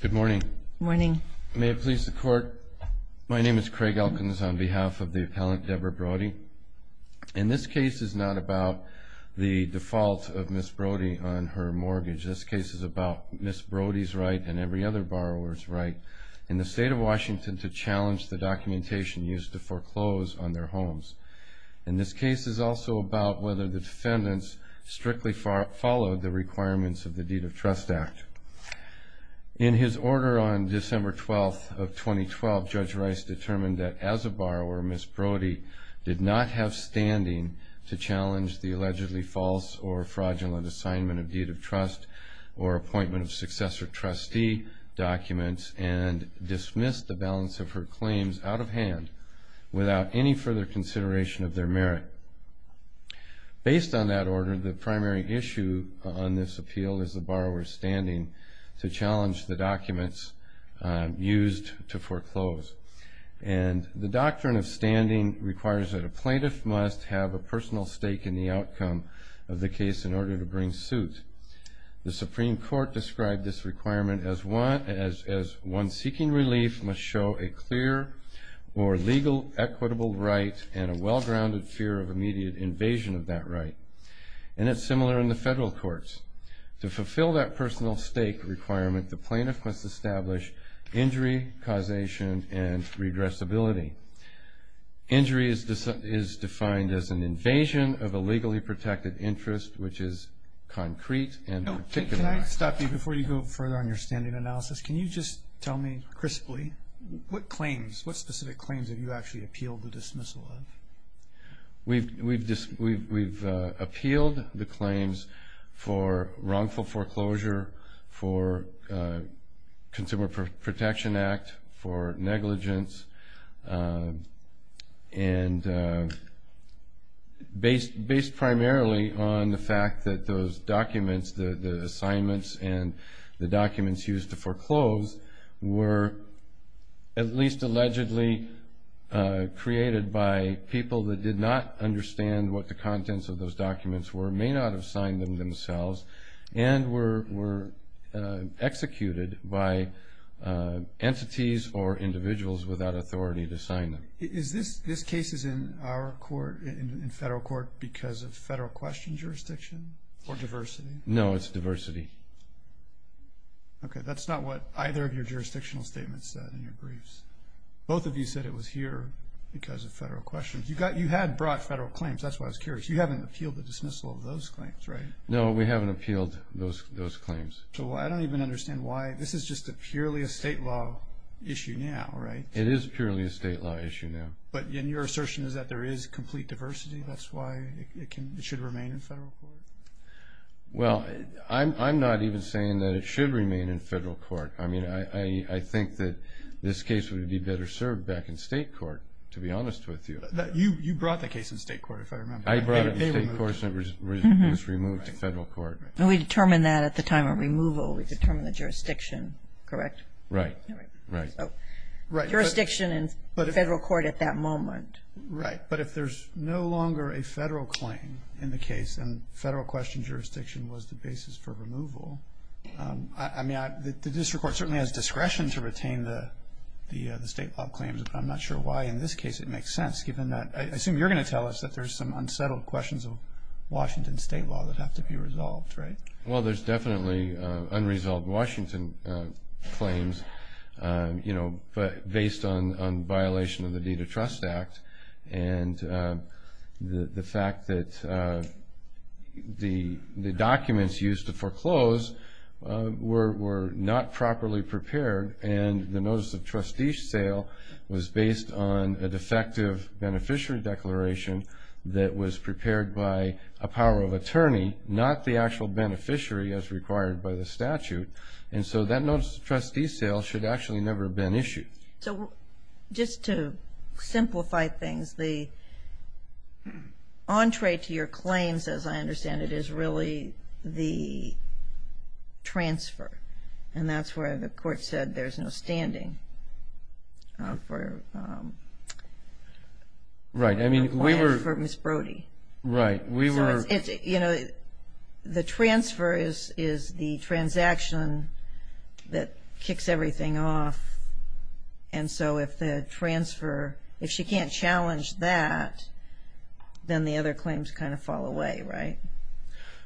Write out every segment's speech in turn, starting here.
Good morning. May it please the Court, my name is Craig Elkins on behalf of the appellant Deborah Brodie. In this case is not about the default of Ms. Brodie on her mortgage. This case is about Ms. Brodie's right and every other borrower's right in the state of Washington to challenge the documentation used to foreclose on their homes. In this case is also about whether the defendants strictly followed the requirements of the Deed of Trust Act. In his order on December 12th of 2012, Judge Rice determined that as a borrower, Ms. Brodie did not have standing to challenge the allegedly false or fraudulent assignment of Deed of Trust or appointment of successor trustee documents and dismissed the balance of her claims out of hand without any further consideration of their merit. Based on that order, the primary issue on this appeal is the borrower's standing to challenge the documents used to foreclose and the doctrine of standing requires that a plaintiff must have a personal stake in the outcome of the case in order to bring suit. The Supreme Court described this requirement as one seeking relief must show a clear or legal equitable right and a well-grounded fear of immediate invasion of that right and it's similar in the federal courts. To fulfill that personal stake requirement, the plaintiff must establish injury causation and regressibility. Injury is defined as an invasion of a legally protected interest which is concrete and particular. Can I stop you before you go further on your standing analysis? Can you just tell me crisply what specific claims have you actually appealed the dismissal of? We've appealed the claims for wrongful foreclosure, for Consumer Protection Act, for negligence and based primarily on the fact that those documents used to foreclose were at least allegedly created by people that did not understand what the contents of those documents were, may not have signed them themselves and were executed by entities or individuals without authority to sign them. Is this case in our court, in federal court, because of Okay, that's not what either of your jurisdictional statements said in your briefs. Both of you said it was here because of federal questions. You had brought federal claims, that's why I was curious. You haven't appealed the dismissal of those claims, right? No, we haven't appealed those claims. So I don't even understand why. This is just purely a state law issue now, right? It is purely a state law issue now. But your assertion is that there is complete diversity, that's why it should remain in federal court? Well, I'm not even saying that it should remain in federal court. I mean, I think that this case would be better served back in state court, to be honest with you. You brought the case in state court, if I remember. I brought it in state court and it was removed to federal court. And we determined that at the time of removal, we determined the jurisdiction, correct? Right, right. Jurisdiction in federal court at that moment. Right, but if there's no longer a federal claim in the case and federal question was the basis for removal. I mean, the district court certainly has discretion to retain the state law claims, but I'm not sure why in this case it makes sense, given that I assume you're going to tell us that there's some unsettled questions of Washington state law that have to be resolved, right? Well, there's definitely unresolved Washington claims, you know, based on violation of the deed of trust act. And the fact that the documents used to foreclose were not properly prepared. And the notice of trustee sale was based on a defective beneficiary declaration that was prepared by a power of attorney, not the actual beneficiary as required by the statute. And so that notice of trustee sale should actually never have been issued. So just to simplify things, the entree to your claims, as I understand it, is really the transfer. And that's where the court said there's no standing for Ms. Brody. Right, we were... You know, the transfer is the transaction that kicks everything off. And so if the transfer, if she can't challenge that, then the other claims kind of fall away, right?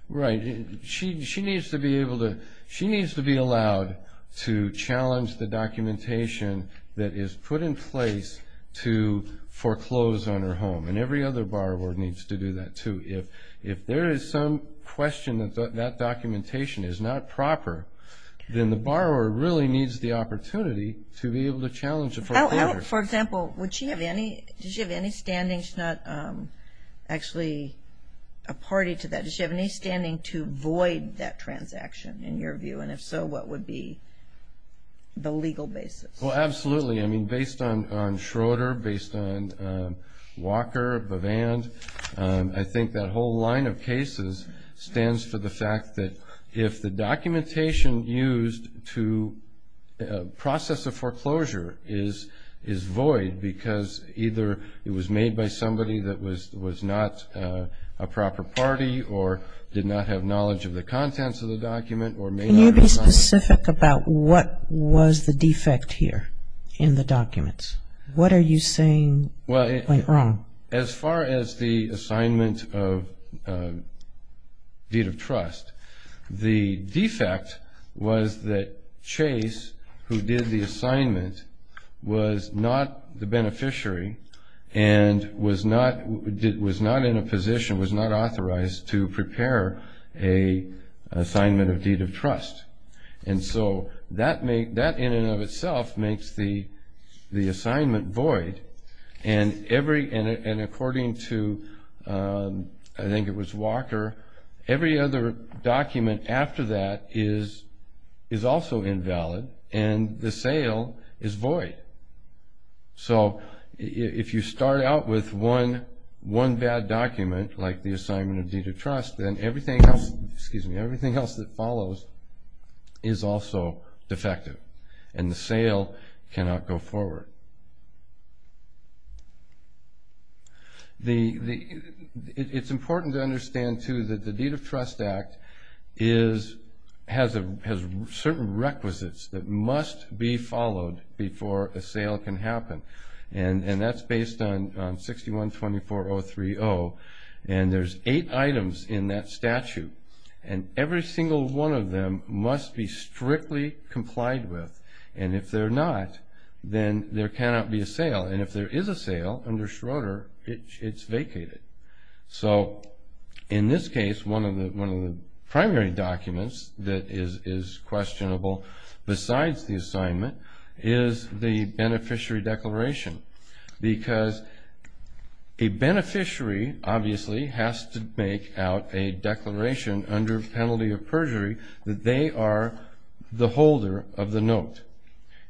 Right. She needs to be able to... She needs to be allowed to challenge the documentation that is put in place to foreclose on her home. And every other borrower needs to do that too. If there is some question that that documentation is not proper, then the borrower really needs the opportunity to be able to challenge the foreclosure. For example, does she have any standing? She's not actually a party to that. Does she have any standing to void that transaction, in your view? And if so, what would be the legal basis? Well, absolutely. I mean, based on Schroeder, based on Walker, Bavand, I think that whole line of cases stands for the fact that if the documentation used to process a foreclosure is void because either it was made by somebody that was not a proper party or did not have knowledge of the contents of the document or may not... Can you be specific about what was the defect here in the documents? What are you saying went wrong? Well, as far as the assignment of deed of trust, the defect was that Chase, who did the assignment, was not the beneficiary and was not in a position, was not in a position to prepare an assignment of deed of trust. And so that in and of itself makes the assignment void. And according to, I think it was Walker, every other document after that is also invalid and the sale is void. So if you start out with one bad document, like the assignment of deed of trust, then everything else that follows is also defective and the sale cannot go forward. It's important to understand, too, that the Deed of Trust Act has certain requisites that must be followed before a sale can be made. And there's eight items in that statute and every single one of them must be strictly complied with. And if they're not, then there cannot be a sale. And if there is a sale under Schroeder, it's vacated. So in this case, one of the primary documents that is questionable besides the assignment is the beneficiary declaration. Because a beneficiary, obviously, has to make out a declaration under penalty of perjury that they are the holder of the note.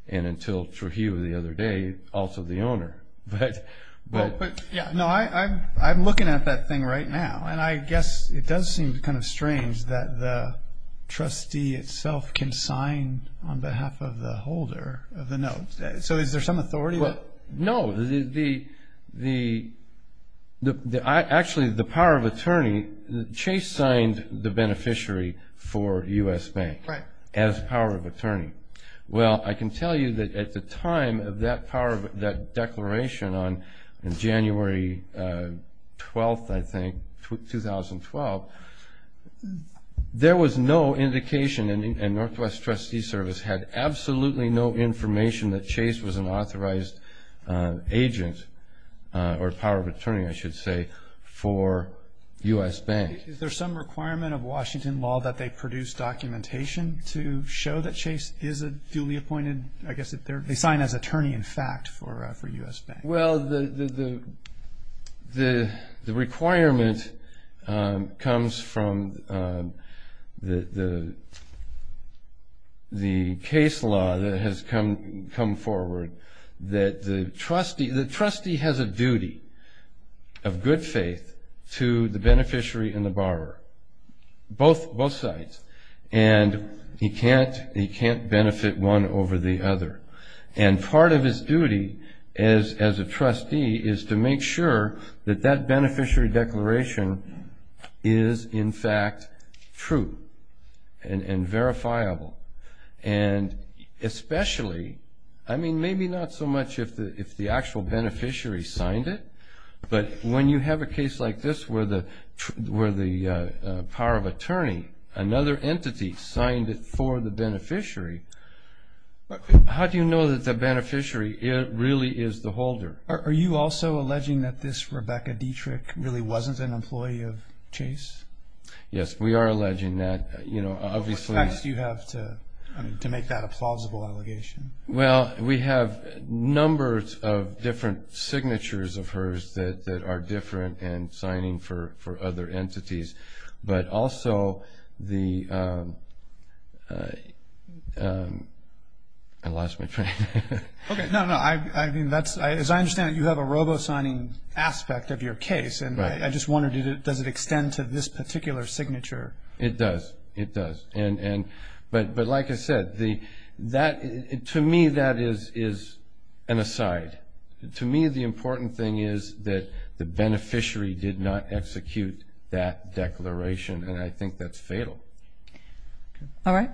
And until Trujillo the other day, also the owner. I'm looking at that thing right now and I guess it does seem kind of strange that the trustee itself can sign on behalf of the holder of the note. So is there some authority? No. Actually, the power of attorney, Chase signed the beneficiary for U.S. Bank as power of attorney. Well, I can tell you that at the time of that declaration on January 12th, I think, 2012, there was no indication, and Northwest Trustee Service had absolutely no information that Chase was an authorized agent or power of attorney, I should say, for U.S. Bank. Is there some requirement of Washington law that they produce documentation to show that Chase is a duly appointed, I guess, they sign as attorney, in fact, for U.S. Bank? Well, the requirement comes from the case law that has come forward that the trustee has a duty of good faith to the beneficiary and the trustee is to make sure that that beneficiary declaration is, in fact, true and verifiable. And especially, I mean, maybe not so much if the actual beneficiary signed it, but when you have a case like this where the power of attorney, another entity, signed it for the beneficiary, how do you know that the beneficiary really is the holder? Are you also alleging that this Rebecca Dietrich really wasn't an employee of Chase? Yes, we are alleging that. What facts do you have to make that a plausible allegation? Well, we have numbers of different signatures of hers that are different and signing for other entities, but also the... I lost my train of thought. Okay. No, no. I mean, as I understand it, you have a robo-signing aspect of your case. Right. And I just wondered, does it extend to this particular signature? It does. It does. But like I said, to me, that is an aside. To me, the important thing is that the beneficiary did not execute that declaration, and I think that's fatal. All right.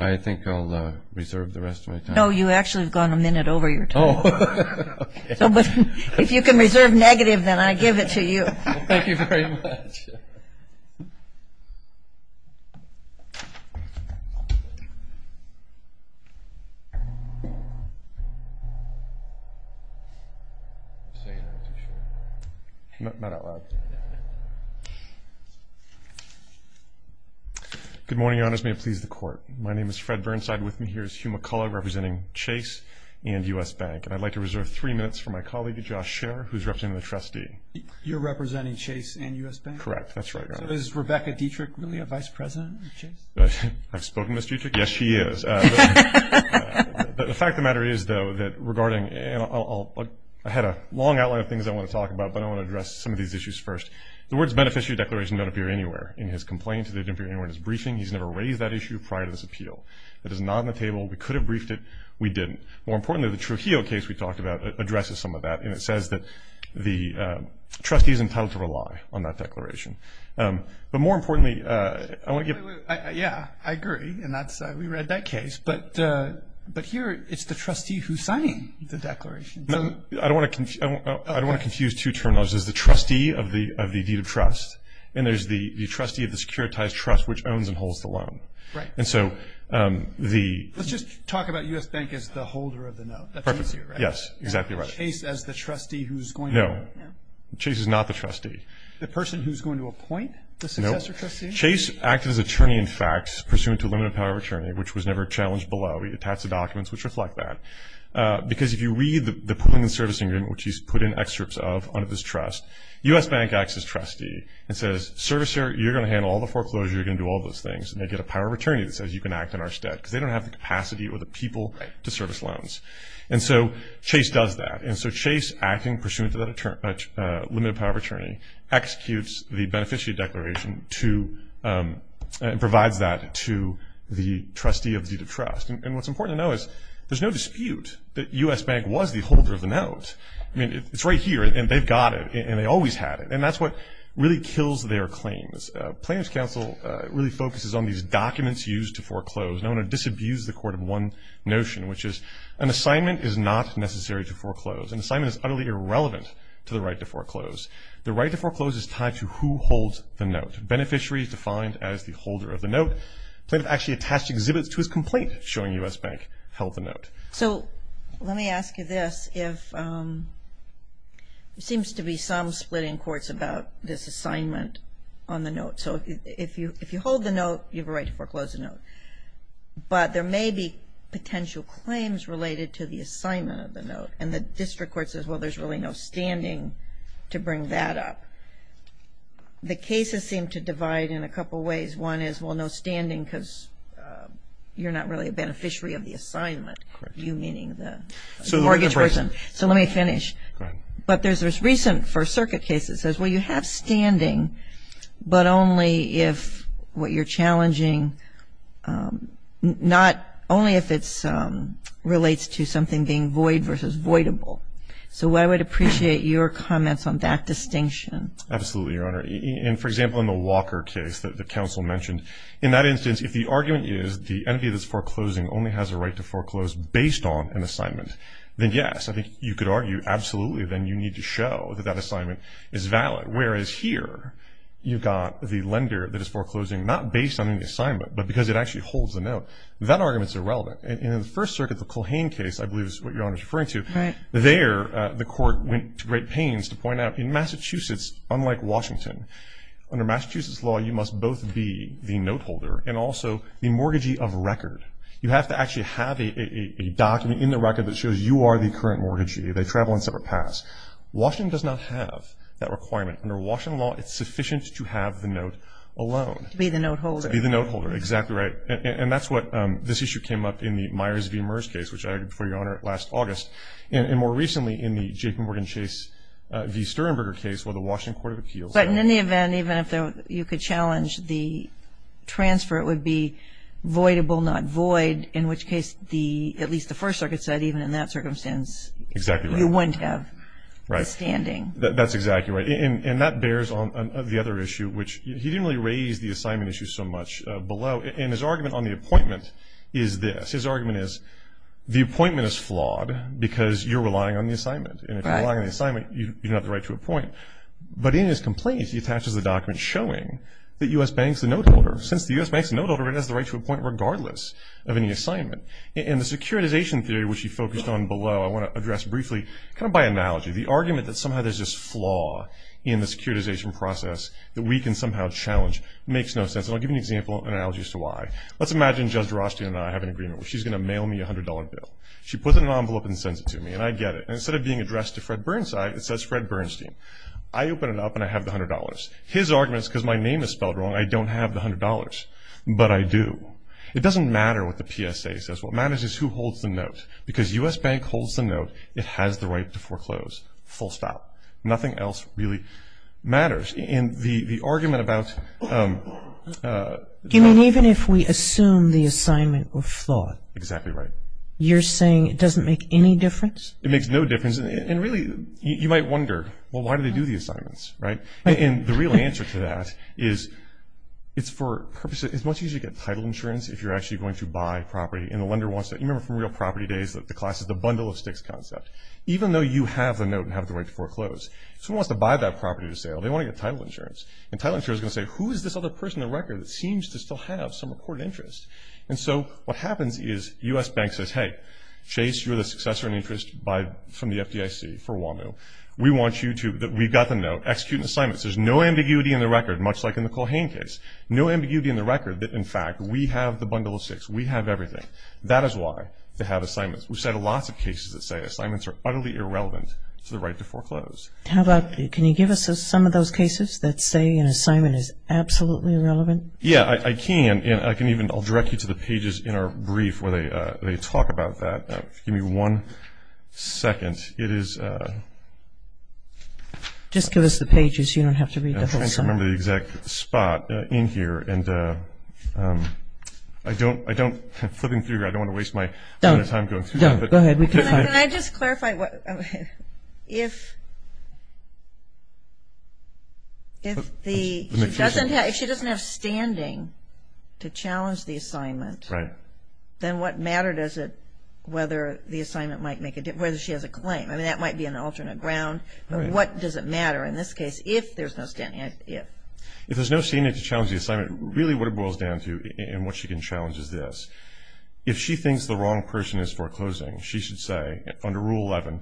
I think I'll reserve the rest of my time. No, you actually have gone a minute over your time. Oh, okay. If you can reserve negative, then I give it to you. Thank you very much. Good morning, Your Honors. May it please the Court. My name is Fred Burnside. With me here is Hugh McCullough, representing Chase and U.S. Bank. And I'd like to reserve three minutes for my colleague, Josh Scherer, who's representing the trustee. You're representing Chase and U.S. Bank? Correct. That's right, Your Honor. So is Rebecca Dietrich really a vice president of Chase? I've spoken to Ms. Dietrich. Yes, she is. But the fact of the matter is, though, that regarding – and I had a long outline of things I want to talk about, but I want to address some of these issues first. The words beneficiary declaration don't appear anywhere in his complaint. They didn't appear anywhere in his briefing. He's never raised that issue prior to this appeal. It is not on the table. We could have briefed it. We didn't. More importantly, the Trujillo case we talked about addresses some of that, and it says that the trustee is entitled to rely on that declaration. But more importantly, I want to give – Yeah, I agree, and that's – we read that case. But here it's the trustee who's signing the declaration. I don't want to confuse two terminologies. There's the trustee of the deed of trust, and there's the trustee of the securitized trust, which owns and holds the loan. Right. And so the – Let's just talk about U.S. Bank as the holder of the note. That's easier, right? Yes, exactly right. Chase as the trustee who's going to – No. Chase is not the trustee. The person who's going to appoint the successor trustee? No. Chase acted as attorney-in-facts pursuant to limited power of attorney, which was never challenged below. He attached the documents, which reflect that. Because if you read the pooling and servicing agreement, which he's put in excerpts of under this trust, U.S. Bank acts as trustee and says, servicer, you're going to handle all the foreclosure, you're going to do all those things, and they get a power of attorney that says you can act in our stead because they don't have the capacity or the people to service loans. And so Chase does that. And so Chase, acting pursuant to that limited power of attorney, executes the beneficiary declaration to – and provides that to the trustee of the deed of trust. And what's important to know is there's no dispute that U.S. Bank was the holder of the note. I mean, it's right here, and they've got it, and they always had it. And that's what really kills their claims. Plaintiff's counsel really focuses on these documents used to foreclose. I want to disabuse the court of one notion, which is an assignment is not necessary to foreclose. An assignment is utterly irrelevant to the right to foreclose. The right to foreclose is tied to who holds the note. Beneficiary is defined as the holder of the note. Plaintiff actually attached exhibits to his complaint showing U.S. Bank held the note. So let me ask you this. There seems to be some split in courts about this assignment on the note. So if you hold the note, you have a right to foreclose the note. But there may be potential claims related to the assignment of the note. And the district court says, well, there's really no standing to bring that up. The cases seem to divide in a couple ways. One is, well, no standing because you're not really a beneficiary of the assignment. You meaning the mortgage person. So let me finish. But there's this recent First Circuit case that says, well, you have standing, but only if what you're challenging, not only if it relates to something being void versus voidable. So I would appreciate your comments on that distinction. Absolutely, Your Honor. And, for example, in the Walker case that the counsel mentioned, in that instance, if the argument is the entity that's foreclosing only has a right to foreclose based on an assignment, then yes. I think you could argue, absolutely, then you need to show that that assignment is valid. Whereas here, you've got the lender that is foreclosing not based on the assignment, but because it actually holds the note. That argument is irrelevant. And in the First Circuit, the Culhane case, I believe is what Your Honor is referring to, there the court went to great pains to point out in Massachusetts, unlike Washington, under Massachusetts law you must both be the note holder and also the mortgagee of record. You have to actually have a document in the record that shows you are the current mortgagee. They travel on separate paths. Washington does not have that requirement. Under Washington law, it's sufficient to have the note alone. To be the note holder. To be the note holder. Exactly right. And that's what this issue came up in the Myers v. Merz case, which I argued before Your Honor last August, and more recently in the J.P. Morgan Chase v. Sternberger case where the Washington Court of Appeals. But in any event, even if you could challenge the transfer, it would be voidable, not void, in which case at least the First Circuit said even in that circumstance you wouldn't have. Right. The standing. That's exactly right. And that bears on the other issue, which he didn't really raise the assignment issue so much below. And his argument on the appointment is this. His argument is the appointment is flawed because you're relying on the assignment. And if you're relying on the assignment, you don't have the right to appoint. But in his complaint, he attaches a document showing that U.S. banks the note holder. Since the U.S. banks the note holder, it has the right to appoint regardless of any assignment. And the securitization theory, which he focused on below, I want to address briefly kind of by analogy. The argument that somehow there's this flaw in the securitization process that we can somehow challenge makes no sense. And I'll give you an example, an analogy as to why. Let's imagine Judge Drostian and I have an agreement. She's going to mail me a $100 bill. She puts it in an envelope and sends it to me, and I get it. And instead of being addressed to Fred Bernstein, it says Fred Bernstein. I open it up, and I have the $100. His argument is because my name is spelled wrong, I don't have the $100. But I do. It doesn't matter what the PSA says. What matters is who holds the note. Because U.S. bank holds the note, it has the right to foreclose, full stop. Nothing else really matters. And the argument about- I mean, even if we assume the assignment was flawed. Exactly right. You're saying it doesn't make any difference? It makes no difference. And really, you might wonder, well, why do they do the assignments, right? And the real answer to that is it's for purposes- it's much easier to get title insurance if you're actually going to buy property. And the lender wants to- you remember from real property days that the class is the bundle of sticks concept. Even though you have the note and have the right to foreclose, someone wants to buy that property to sale, they want to get title insurance. And title insurance is going to say, who is this other person in the record that seems to still have some recorded interest? And so what happens is U.S. bank says, hey, Chase, you're the successor in interest from the FDIC for WAMU. We want you to-we've got the note. Execute an assignment. There's no ambiguity in the record, much like in the Culhane case. No ambiguity in the record that, in fact, we have the bundle of sticks. We have everything. That is why they have assignments. We've had lots of cases that say assignments are utterly irrelevant to the right to foreclose. How about-can you give us some of those cases that say an assignment is absolutely irrelevant? Yeah, I can. And I can even-I'll direct you to the pages in our brief where they talk about that. Give me one second. The assignment, it is- Just give us the pages so you don't have to read the whole summary. I'm trying to remember the exact spot in here, and I don't-flipping through here, I don't want to waste my- Don't. Don't. Go ahead. Can I just clarify what-if the- If she doesn't have standing to challenge the assignment- Right. Then what matter does it-whether the assignment might make a-whether she has a claim? I mean, that might be an alternate ground. But what does it matter in this case if there's no standing? If there's no standing to challenge the assignment, really what it boils down to and what she can challenge is this. If she thinks the wrong person is foreclosing, she should say, under Rule 11,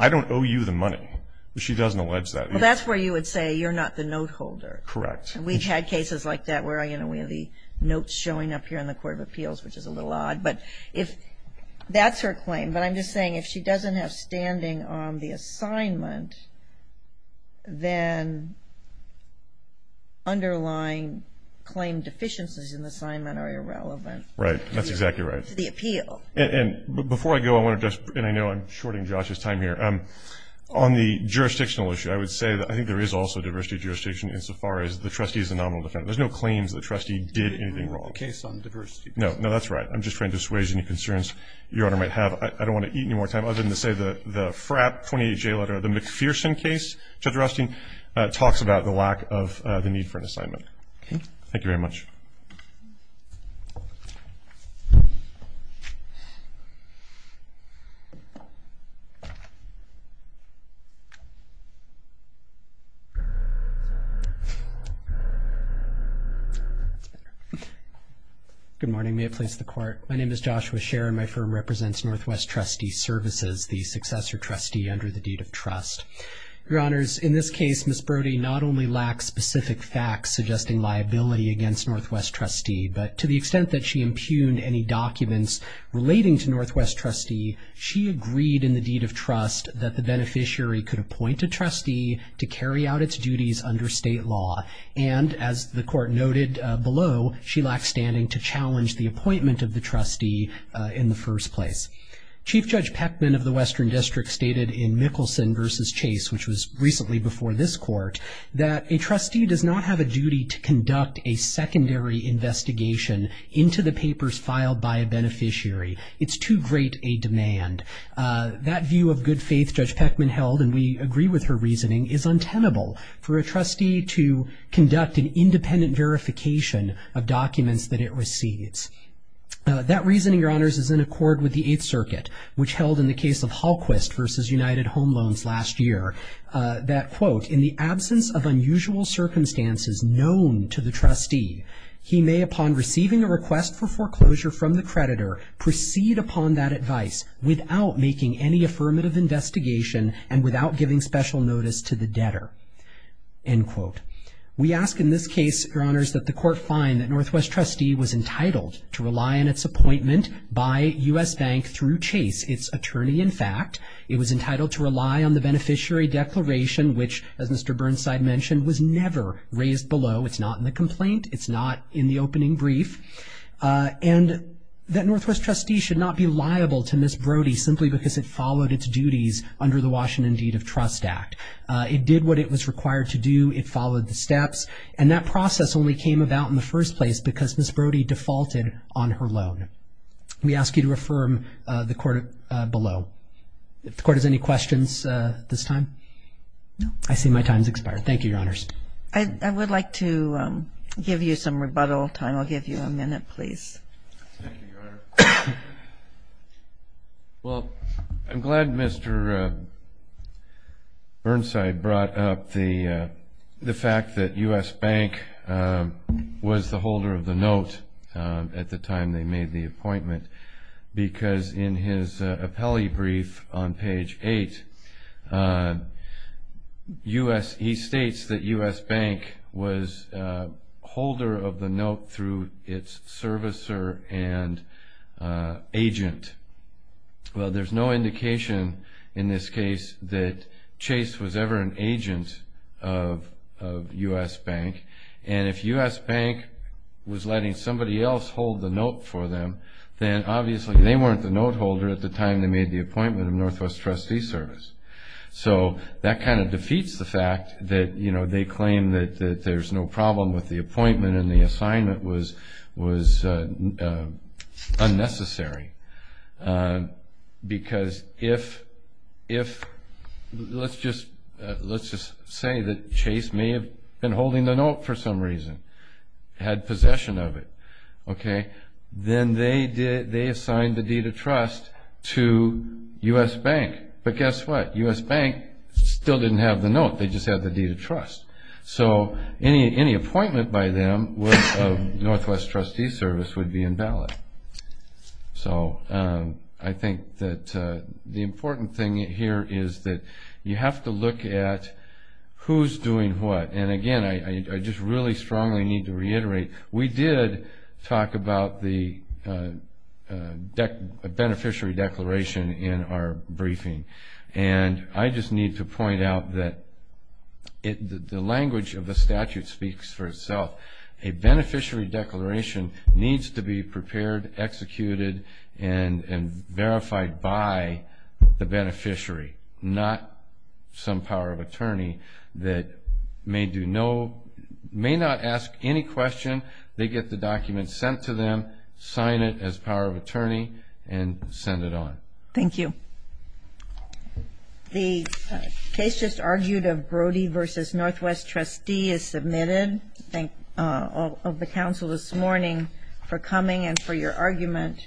I don't owe you the money. She doesn't allege that either. Well, that's where you would say you're not the note holder. Correct. We've had cases like that where, you know, we have the notes showing up here in the Court of Appeals, which is a little odd. But if-that's her claim. But I'm just saying if she doesn't have standing on the assignment, then underlying claim deficiencies in the assignment are irrelevant. Right. That's exactly right. To the appeal. And before I go, I want to just-and I know I'm shorting Josh's time here. On the jurisdictional issue, I would say that I think there is also diversity jurisdiction insofar as the trustee is a nominal defendant. There's no claims that the trustee did anything wrong. The case on diversity. No. No, that's right. I'm just trying to assuage any concerns Your Honor might have. I don't want to eat any more time other than to say the FRAP 28J letter, the McPherson case, Judge Rustin, talks about the lack of the need for an assignment. Okay. Thank you very much. Good morning. May it please the Court. My name is Joshua Scherer. My firm represents Northwest Trustee Services, the successor trustee under the deed of trust. Your Honors, in this case, Ms. Brody not only lacks specific facts suggesting liability against Northwest Trustee, but to the extent that she impugned any documents relating to Northwest Trustee, she agreed in the deed of trust that the beneficiary could appoint a trustee to carry out its duties under state law. And as the Court noted below, she lacks standing to challenge the appointment of the trustee in the first place. Chief Judge Peckman of the Western District stated in Mickelson versus Chase, which was recently before this Court, that a trustee does not have a duty to conduct a secondary investigation into the papers filed by a beneficiary. It's too great a demand. That view of good faith Judge Peckman held, and we agree with her reasoning, is untenable for a trustee to conduct an independent verification of documents that it receives. That reasoning, Your Honors, is in accord with the Eighth Circuit, which held in the case of Hallquist versus United Home Loans last year, that quote, in the absence of unusual circumstances known to the trustee, he may upon receiving a request for foreclosure from the creditor, proceed upon that advice without making any affirmative investigation and without giving special notice to the debtor. End quote. We ask in this case, Your Honors, that the Court find that Northwest Trustee was entitled to rely on its appointment by U.S. Bank through Chase, its attorney in fact. It was entitled to rely on the beneficiary declaration, which as Mr. Burnside mentioned, was never raised below. It's not in the complaint. It's not in the opening brief. And that Northwest Trustee should not be liable to Miss Brody simply because it followed its duties under the Washington Deed of Trust Act. It did what it was required to do. It followed the steps. And that process only came about in the first place because Miss Brody defaulted on her loan. We ask you to affirm the Court below. If the Court has any questions at this time? No. I see my time has expired. Thank you, Your Honors. I would like to give you some rebuttal time. I'll give you a minute, please. Thank you, Your Honor. Well, I'm glad Mr. Burnside brought up the fact that U.S. Bank was the holder of the note at the time they made the appointment because in his appellee brief on page 8, he states that U.S. Bank was an agent. Well, there's no indication in this case that Chase was ever an agent of U.S. Bank. And if U.S. Bank was letting somebody else hold the note for them, then obviously they weren't the note holder at the time they made the appointment of Northwest Trustee Service. So that kind of defeats the fact that, you know, they claim that there's no problem with the appointment and the assignment was unnecessary. Because if, let's just say that Chase may have been holding the note for some reason, had possession of it, okay, then they assigned the deed of trust to U.S. Bank. But guess what? U.S. They just had the deed of trust. So any appointment by them of Northwest Trustee Service would be invalid. So I think that the important thing here is that you have to look at who's doing what. And, again, I just really strongly need to reiterate, we did talk about the beneficiary declaration in our briefing. And I just need to point out that the language of the statute speaks for itself. A beneficiary declaration needs to be prepared, executed, and verified by the beneficiary, not some power of attorney that may not ask any question. They get the document sent to them, sign it as power of attorney, and send it on. Thank you. The case just argued of Brody v. Northwest Trustee is submitted. Thank all of the council this morning for coming and for your argument.